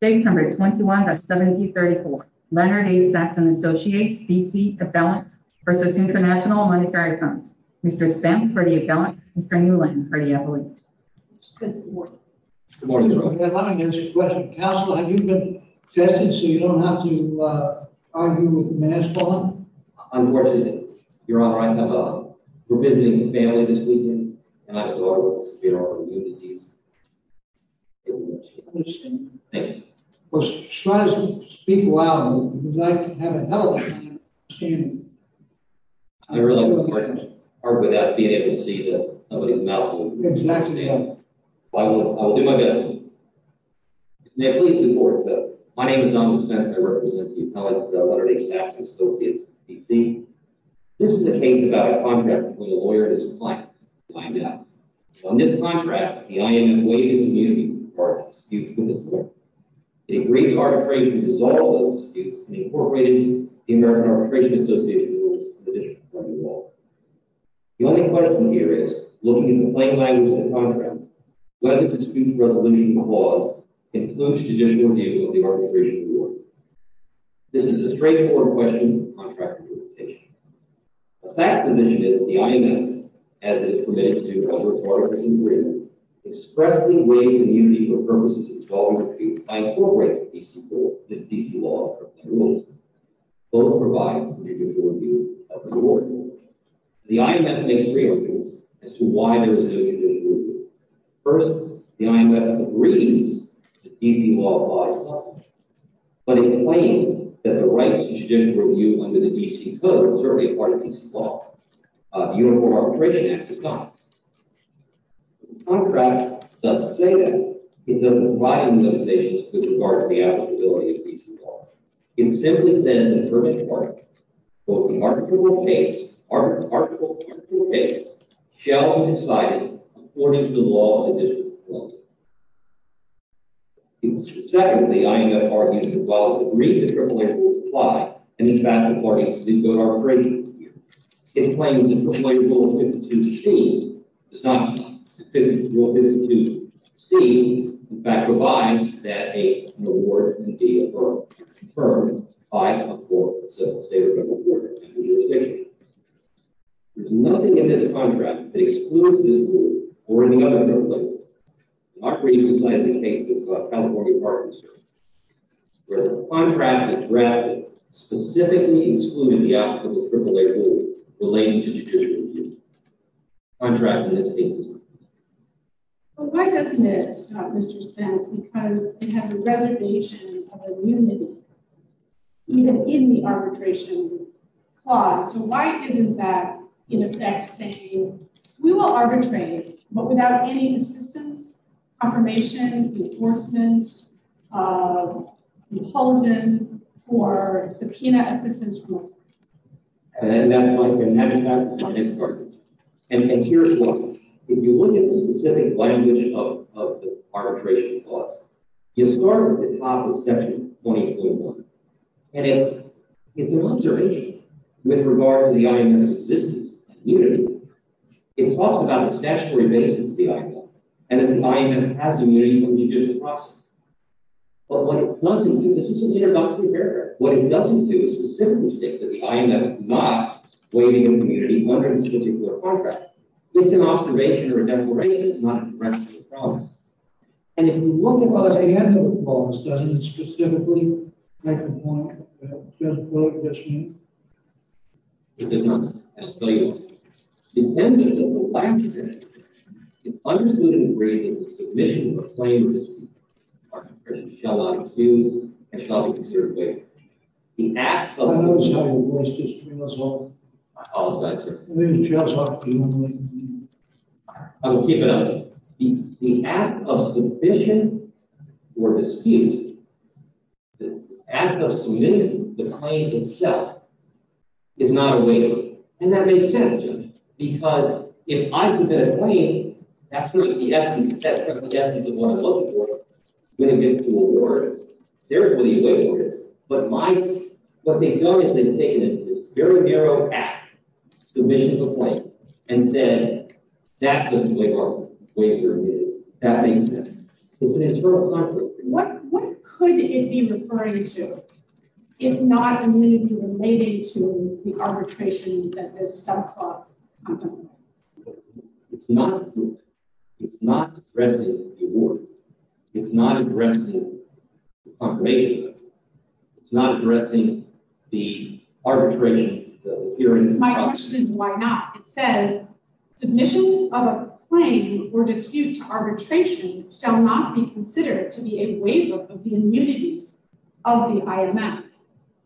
September 21, 1734 Leonard A. Sacks & Associates v. International Monetary Fund Mr. Spence for the appellant, Mr. Newland for the appellant Good morning Good morning, Your Honor Let me ask you a question. Counsel, have you been tested so you don't have to argue with mass fraud? Unfortunately, Your Honor, I have not. We're visiting a family this weekend, and I was ordered to secure a new disease Good question Thank you We're trying to speak loud, and we'd like to have a helpline I realize it's quite hard without being able to see somebody's mouth Exactly I will do my best May I please report, sir? My name is Donald Spence. I represent the appellant, Leonard A. Sacks & Associates, D.C. This is a case about a contract between a lawyer and his client. On this contract, the I.M.N. waived his immunity from the charge of disputes with his client. It agreed to arbitration to dissolve those disputes and incorporated the American Arbitration Association's rules for judicial review. The only question here is, looking at the plain language of the contract, whether the dispute resolution clause includes judicial review of the arbitration reward. This is a straightforward question for contract implementation. Sacks' position is that the I.M.N. has the permission to do arbitration review, expressly waive immunity for purposes of disqualification review, and incorporate the D.C. law. Both provide judicial review of the reward. The I.M.N. makes three arguments as to why there is no judicial review. First, the I.M.N. agrees that D.C. law applies to arbitration. But it claims that the right to judicial review under the D.C. Code is already part of D.C. law. The Uniform Arbitration Act is not. The contract doesn't say that. It doesn't provide any limitations with regard to the applicability of D.C. law. It simply says in the first part, quote, the article of the case shall be decided according to the law of the district court. Secondly, the I.M.N. argues that while it's agreed that crippling rules apply, and in fact the parties to the D.C. Code are afraid to review, it claims that Crippling Rule 52C does not meet Crippling Rule 52C. In fact, provides that an award can be affirmed by a court, civil, state, or federal court in the jurisdiction. There's nothing in this contract that excludes this rule or any other crippling rule. Not for you to decide the case, but for California partners. The contract is drafted specifically excluding the applicable crippling rule relating to judicial review. The contract in this case is not. But why doesn't it, Mr. Spence, because it has a reservation of immunity. Even in the arbitration clause. So why isn't that, in effect, saying we will arbitrate, but without any assistance, confirmation, enforcement, compulsion, or subpoena efforts and so on? And that's my next argument. And here's why. If you look at the specific language of the arbitration clause, you start at the top of Section 20.1. And it's an observation with regard to the IMF's existence and immunity. It talks about the statutory basis of the IMF and that the IMF has immunity from judicial process. But what it doesn't do, this is an introductory paragraph, what it doesn't do is specifically state that the IMF is not waiving immunity under this particular contract. It's an observation or a declaration. It's not a direct promise. And if you look at the other end of the clause, doesn't it specifically make the point that it doesn't waive this immunity? It does not. That's what I want to say. It's an observation. It's understood and agreed that the submission of plain receipt, in part, should not be used and shall be conserved. The act of… I know it's not a voice test for me as well. I apologize, sir. I mean, it just ought to be one way to do it. I will keep it up. The act of submission or dispute, the act of submitting the claim itself is not a waiver. And that makes sense to me because if I submit a claim, that's sort of the essence of what I'm looking for. I'm going to get a new award. Therefore, the award is. But what they've done is they've taken this very narrow act, submission of a claim, and said that's a waiver. That makes sense. What could it be referring to, if not immunity relating to the arbitration that this subclause contemplates? It's not. It's not addressing the award. It's not addressing the confirmation. It's not addressing the arbitration. My question is why not? It says, submission of a claim or dispute to arbitration shall not be considered to be a waiver of the immunities of the IMF.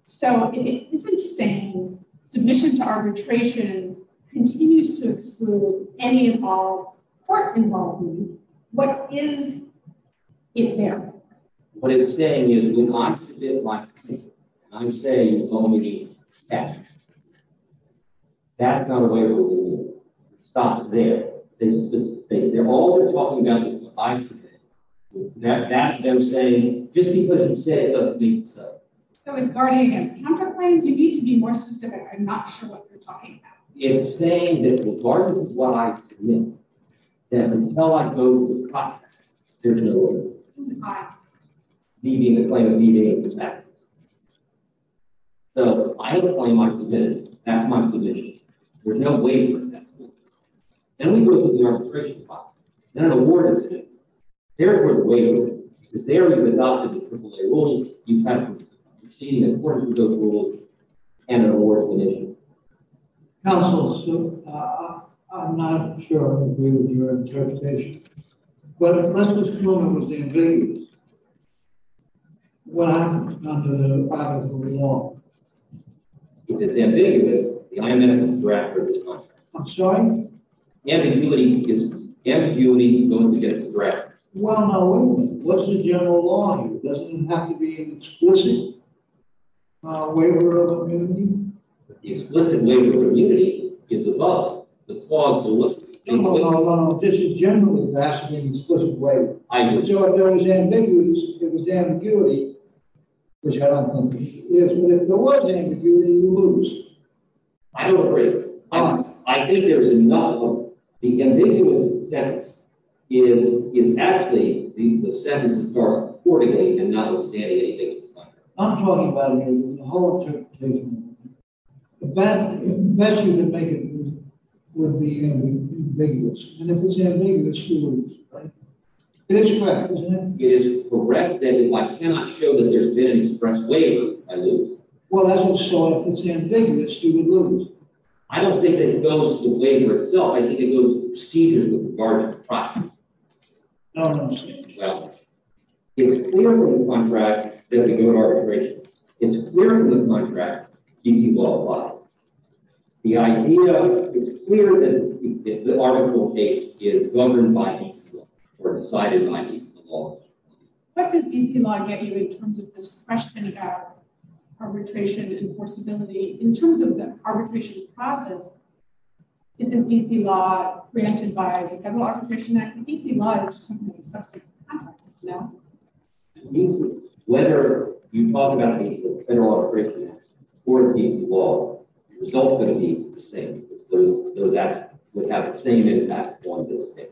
So if it isn't saying submission to arbitration continues to exclude any and all court involvement, what is it there? What it's saying is do not submit my claim. I'm saying only that. That's not a waiver of immunity. It stops there. All they're talking about is what I submitted. Just because you said it doesn't mean so. So it's guarding against counterclaims. You need to be more specific. I'm not sure what you're talking about. It's saying that until I go to the process, there's no order. Leaving the claim, leaving it in the past. So I have a claim I submitted. That's my submission. There's no waiver. Then we go to the arbitration process. Then an award is issued. There is no waiver. Because there, without the triple A rules, you have to exceed the importance of those rules and an award is issued. Counsel, I'm not sure I agree with your interpretation. But let's assume it was ambiguous. What happens under the law? It's ambiguous. I'm sorry? Ambiguity is going to get dragged. Well, no. What's the general law? It doesn't have to be an explicit waiver of immunity. The explicit waiver of immunity is above the clause. No, no, no, no. This is general. It doesn't have to be an explicit waiver. I agree. It was ambiguous. It was ambiguity, which I don't think it is. But if there was ambiguity, you lose. I don't agree. Why? I think there's another. The ambiguous sentence is actually the sentence for 40 days and not the standard eight days. I'm talking about the whole interpretation. The best you can make it is with the ambiguous. And if it's ambiguous, you lose. Right? It is correct, isn't it? It is correct. If I cannot show that there's been an express waiver, I lose. Well, that's what started it. If it's ambiguous, you would lose. I don't think it goes to the waiver itself. I think it goes to the procedure with regard to the process. No, I don't understand. Well, it's clear from the contract that we don't arbitrate. It's clear from the contract that D.C. law applies. The idea is clear that the arbitral case is governed by D.C. law or decided by D.C. law. What does D.C. law get you in terms of this question about arbitration and enforceability? In terms of the arbitration process, isn't D.C. law granted by the Federal Arbitration Act? D.C. law is something that's subject to contract. No? It means that whether you talk about the Federal Arbitration Act or D.C. law, the result is going to be the same. So that would have the same impact on both states.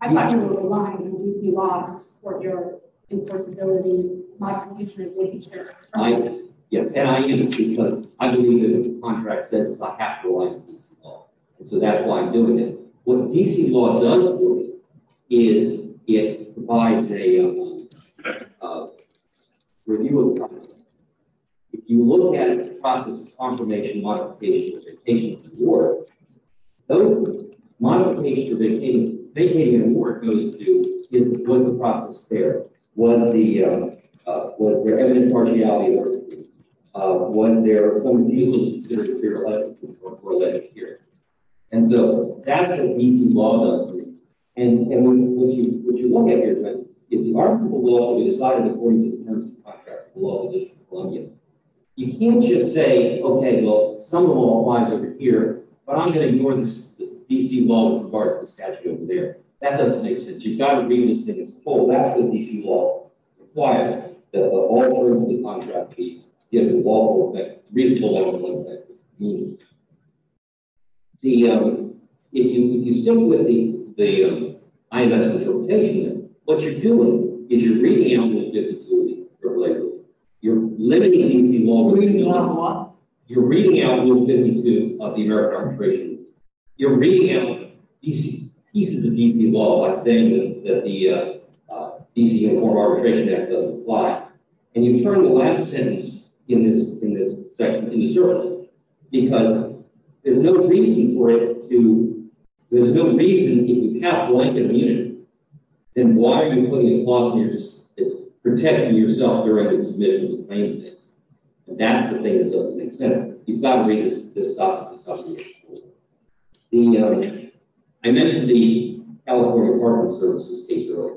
I'm not going to rely on D.C. law to support your enforceability. My confusion is with each other. Yes, and I am because I'm doing a contract sentence. I have to rely on D.C. law. So that's why I'm doing it. What D.C. law does for you is it provides a review of the process. If you look at the process of confirmation, modification, and vacation of the board, notice that modification of vacation of the board goes to, was the process fair? Was there evidence of partiality? Was there some refusal to consider superior legislation or legislature? And so that's what D.C. law does for you. And what you look at here is the article will also be decided according to the terms and contract of the law of the District of Columbia. You can't just say, okay, well, some of the law applies over here, but I'm going to ignore the D.C. law with regard to the statute over there. That doesn't make sense. You've got to read this thing as a whole. That's what D.C. law requires, that all terms of the contract be given lawful effect, reasonable lawful effect. If you stick with the IMS interpretation, what you're doing is you're reading out Rule 52 of the Circulation Act. You're limiting the D.C. law to reasonable lawful law. You're reading out Rule 52 of the American Arbitration Act. You're reading out pieces of D.C. law by saying that the D.C. Enforced Arbitration Act does apply. And you turn the last sentence in this section into service because there's no reason for it to – there's no reason if you have blank immunity, then why are you putting a clause in your – it's protecting your self-directed submission to claim this. And that's the thing that doesn't make sense. You've got to read this stuff as a whole. The – I mentioned the California Department of Services case earlier.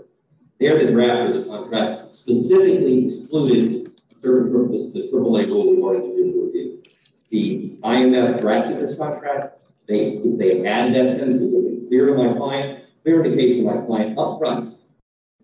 There, the draft of the contract specifically excluded certain purposes that Cripple-A rules require individuals to do. The IMS drafted this contract. They had that sentence. It would be clear to my client – clear to the case to my client up front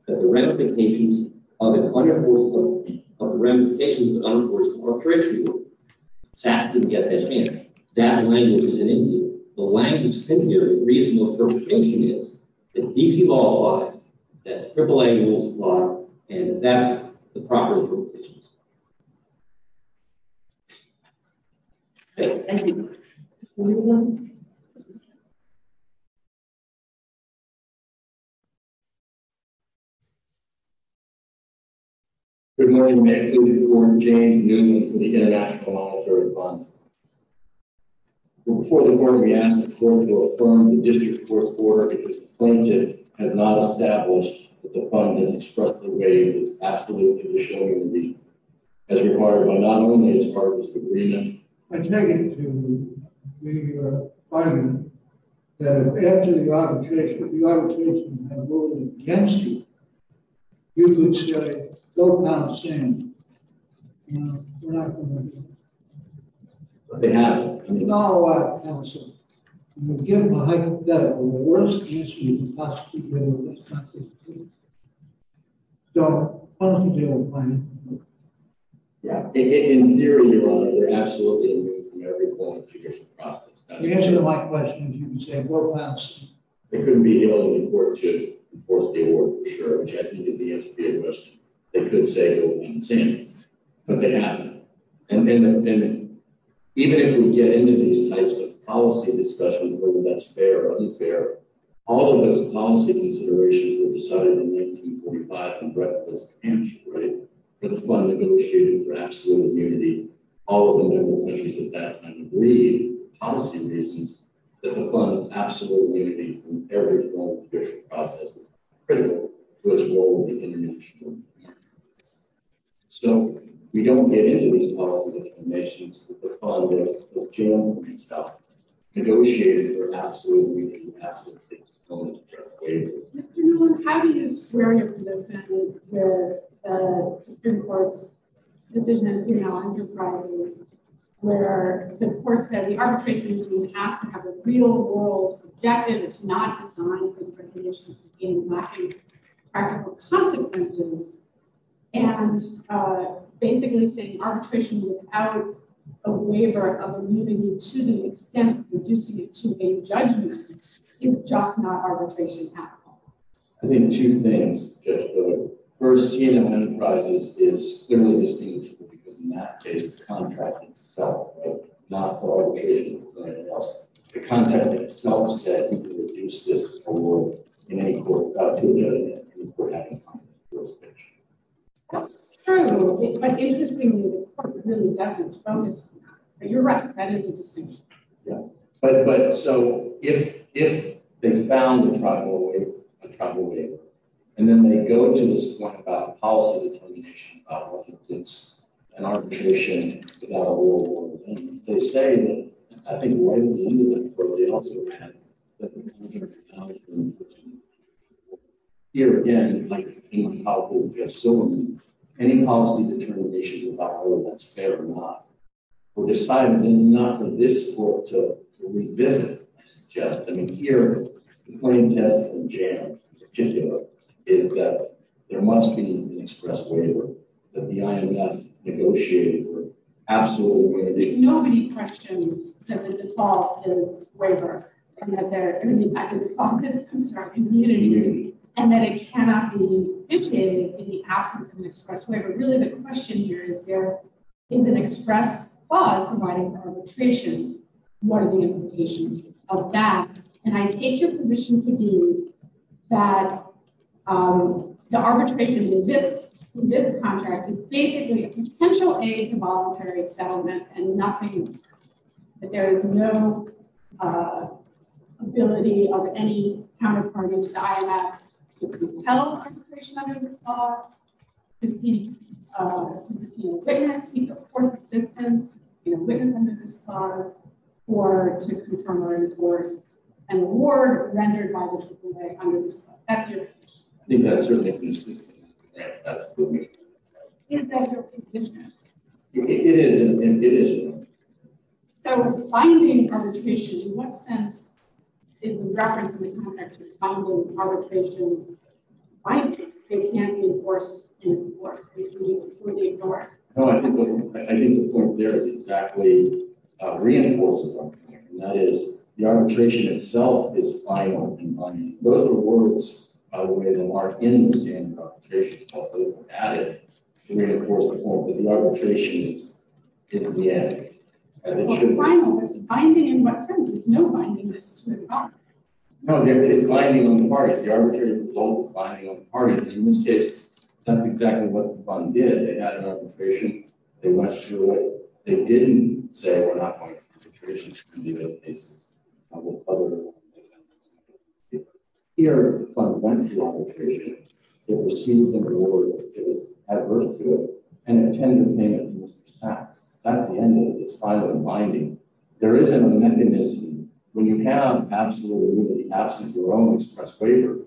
that the ramifications of an unenforced – of the ramifications of an unenforced arbitration were – SACS didn't get that chance. That language is in Indian. The language in here, the reasonable interpretation is that D.C. law applies, that Cripple-A rules apply, and that that's the proper interpretation. Okay. Anyone? Thank you. Good morning. May I please have the floor to Jane Newton from the International Monetary Fund. Before the board, we ask the court to affirm the district court order, because plaintiff has not established that the fund has struck the way that it's absolutely traditionally would be, as required by not only its partners, but – I take it to be your argument that after the arbitration, if the arbitration had voted against you, you would say, no, we're not going to do it. But they haven't. We've got a lot of counsel. We've given a hypothetical. The worst answer you can possibly give is not to do it. So, how do you deal with plaintiff? Yeah. In theory, Your Honor, they're absolutely in the way from every point of judicial process. If you answer my question, you would say, court passed. They couldn't be held in court to enforce the order, for sure, which I think is the answer to your question. They could say it would be insane, but they haven't. Even if we get into these types of policy discussions, whether that's fair or unfair, all of those policy considerations were decided in 1945 and brought to a conclusion, right? The fund negotiated for absolute unity. All of the member countries at that time agreed, policy reasons, that the fund's absolute unity from every point of judicial process was critical to its role in the international community. So, we don't get into these policy discussions with the funders, with General and stuff. Negotiated for absolute unity. Absolute unity. Mr. Newland, how do you square your position where Supreme Court's decision, you know, under priority, where the court said the arbitration has to have a real world objective. It's not designed for recognition in lack of practical consequences. And basically saying arbitration without a waiver of immunity to the extent of reducing it to a judgment is just not arbitration at all. I think two things. First, T&M Enterprises is clearly distinguishable because in that case, the contract itself, right? The contract itself said you can reduce this award in any court without doing anything. That's true, but interestingly, the court really doesn't promise that. You're right, that is a distinction. But, so, if they found a tribal waiver, and then they go to this point about policy determination, about what constitutes an arbitration without a rule, and they say that, I think right at the end of the court they also add that the contract is not an arbitration without a rule. Here again, like any policy, we have so many. Any policy determination without a rule, that's fair or not. We're deciding not in this court to revisit, I suggest. I mean, here, the point of this in general, in particular, is that there must be an express waiver. That the IMF negotiated an absolute waiver. Nobody questions that the default is waiver. And that there are going to be consequences for our community. And that it cannot be indicated in the absence of an express waiver. Really, the question here is there is an express clause providing for arbitration. What are the implications of that? And I take your position to be that the arbitration in this contract is basically a potential aid to voluntary settlement and nothing more. That there is no ability of any counterpart in the IMF to compel arbitration under this law. To be a witness, be a court assistant, be a witness under this law. Or to confirm or enforce an award rendered by the Supreme Court under this law. That's your position. I think that's certainly consistent. Is that your position? It is. So, binding arbitration, in what sense is the reference in the contract to compel arbitration binding? It can't be enforced in a court. It would be ignored. No, I think the point there is exactly reinforcing arbitration. And that is, the arbitration itself is binding. Those are words, by the way, that are in the same arbitration. It's also added to reinforce the point that the arbitration is the added. Well, it's a final version. Binding in what sense? There's no binding in this contract. No, it's binding on the parties. The arbitrary vote, binding on the parties. In this case, that's exactly what the fund did. They had an arbitration. They went through it. They didn't say, we're not going through arbitration. Here, the fund went through arbitration. It received the reward. It was adverse to it. And it attended the payment of Mr. Sachs. That's the end of it. It's finally binding. There isn't a mechanism. When you have absolutely, absolutely your own express waiver,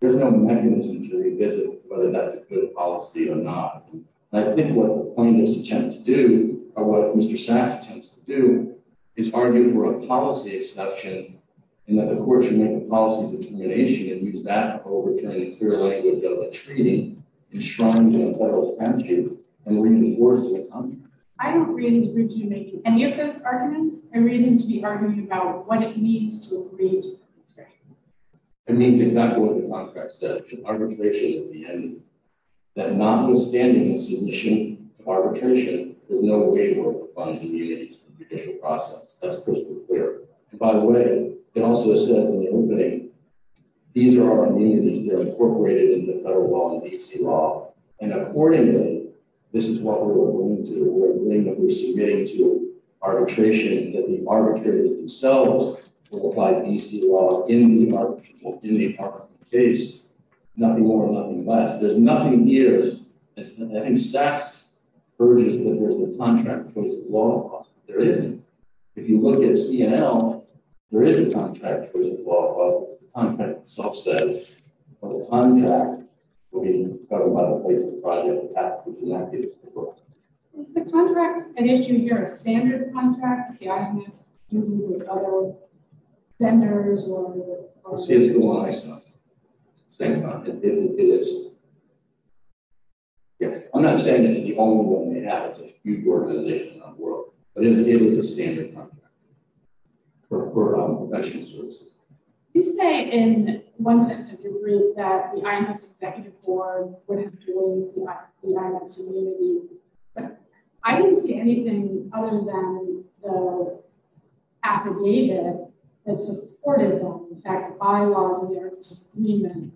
there's no mechanism to revisit whether that's a good policy or not. And I think what the plaintiffs attempt to do, or what Mr. Sachs attempts to do, is argue for a policy exception in that the court should make a policy determination and use that to overturn the clear language of the treaty enshrined in a federal statute and reinforce the contract. I don't really agree to making any of those arguments. I really need to be arguing about what it means to agree to the contract. It means exactly what the contract says. Arbitration at the end. That notwithstanding the submission of arbitration, there's no way for the funds to be used in the judicial process. That's crystal clear. And by the way, it also says in the opening, these are our amenities. They're incorporated into the federal law and D.C. law. And accordingly, this is what we're agreeing to. We're agreeing that we're submitting to arbitration, that the arbitrators themselves will apply D.C. law in the arbitration case. Nothing more, nothing less. There's nothing here. I think Sachs argues that there's a contract. There isn't. If you look at C&L, there is a contract. The contract itself says the contract will be covered by the place of the project. And that is the book. Is the contract at issue here a standard contract? I'm not dealing with other vendors. I'm not saying this is the only one they have. It's a huge organization around the world. But it is a standard contract. For our professional services. You say in one sense of your brief that the IMS executive board would have joined the IMS community. But I didn't see anything other than the affidavit that supported them. In fact, bylaws in their agreement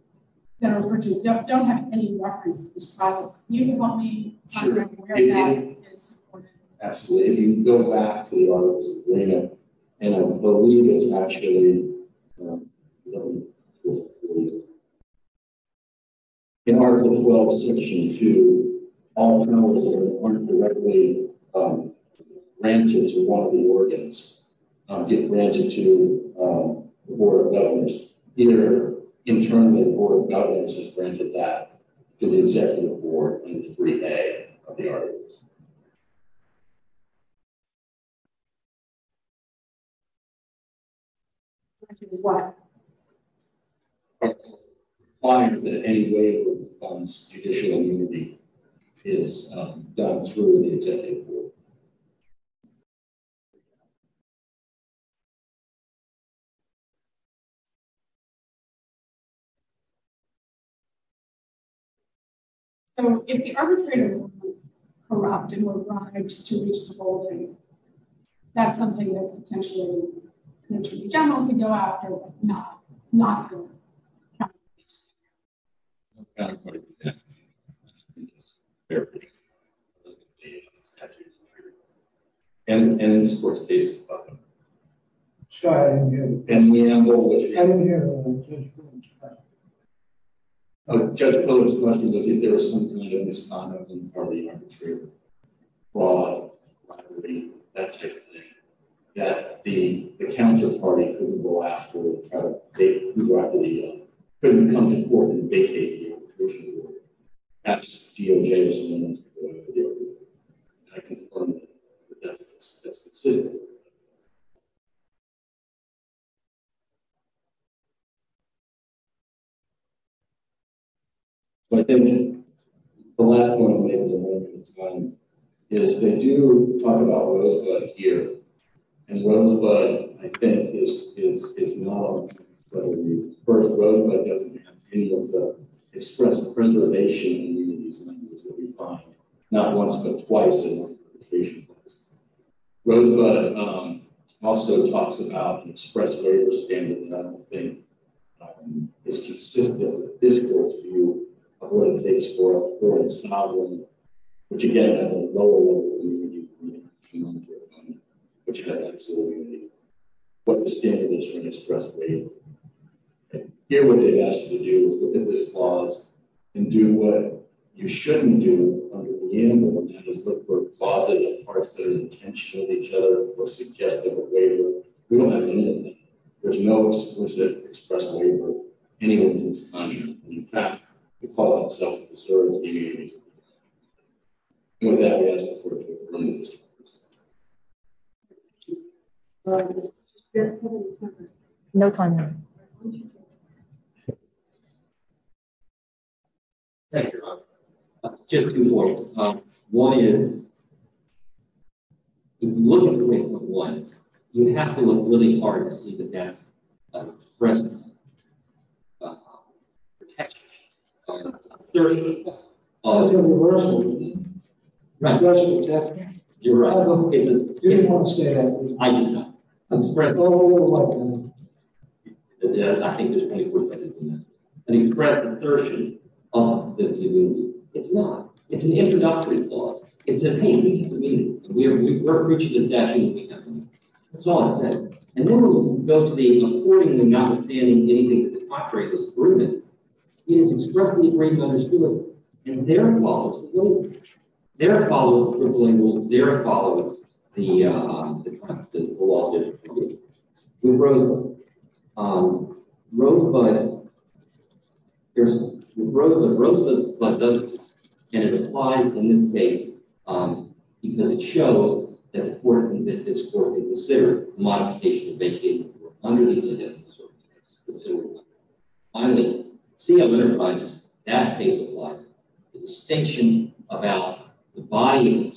that are referred to don't have any reference to this project. Can you give me a contract where that is supported? Absolutely. If you go back to the articles in the agreement. And I believe it's actually in article 12, section 2. All the numbers that aren't directly granted to one of the organs get granted to the board of governors. Either internally the board of governors has granted that to the executive board. In the brief A of the articles. What? I find that any waiver on judicial immunity is done through the executive board. So, if the arbitrator would corrupt and would want to reach the whole thing. That's something that potentially the attorney general could go after, but not the county police. I don't quite get that. And in this court's case. Sorry, I didn't hear you. I didn't hear the judge's question. Judge Cote's question was if there was some kind of misconduct on the part of the arbitrator. That type of thing. That the counter party could go after. Could come to court and vacate the arbitration board. That's G.O. Jameson. I confirm that. That's the city. The last one is they do talk about Rosebud here. And Rosebud, I think, is not. Rosebud doesn't have any of the express preservation. Not once, but twice. Rosebud also talks about express waiver standards. I don't think it's consistent with the physical view of what it takes for a sovereign. Which, again, has a lower level. Which has absolutely nothing to do with what the standard is for an express waiver. Here what they ask you to do is look at this clause and do what you shouldn't do. Look for clauses and parts that are intentional to each other or suggest a waiver. We don't have any of that. There's no explicit express waiver. In fact, the clause itself preserves the agreement. No time now. Thank you. Just two points. One is, One is, you have to look really hard to see that that's an express protection. Expression of protection. You're right. I do not. An express assertion of the community. It's not. It's an introductory clause. It says, hey, we have a meeting. We're reaching a statute of limitations. That's all it says. And then we'll go to the according and notwithstanding anything that the contrary has proven. It is expressly agreed and understood. And there it follows. Wait. There it follows. There it follows. The, uh, the, uh, the law. We wrote, um, Rosebud. There's, we wrote that Rosebud does this. And it applies in this case. Um, because it shows that it's important that this court be considered. Under these circumstances. Finally, see a letter of advice. That case applies. The distinction about the body.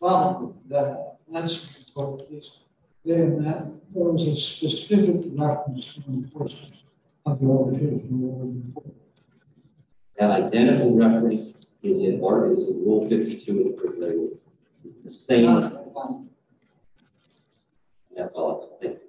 Well. That. That's. Then that. Forms a specific. Person. Identical reference. Is it? The same. Yeah. Thank you. Thank you. Thank you.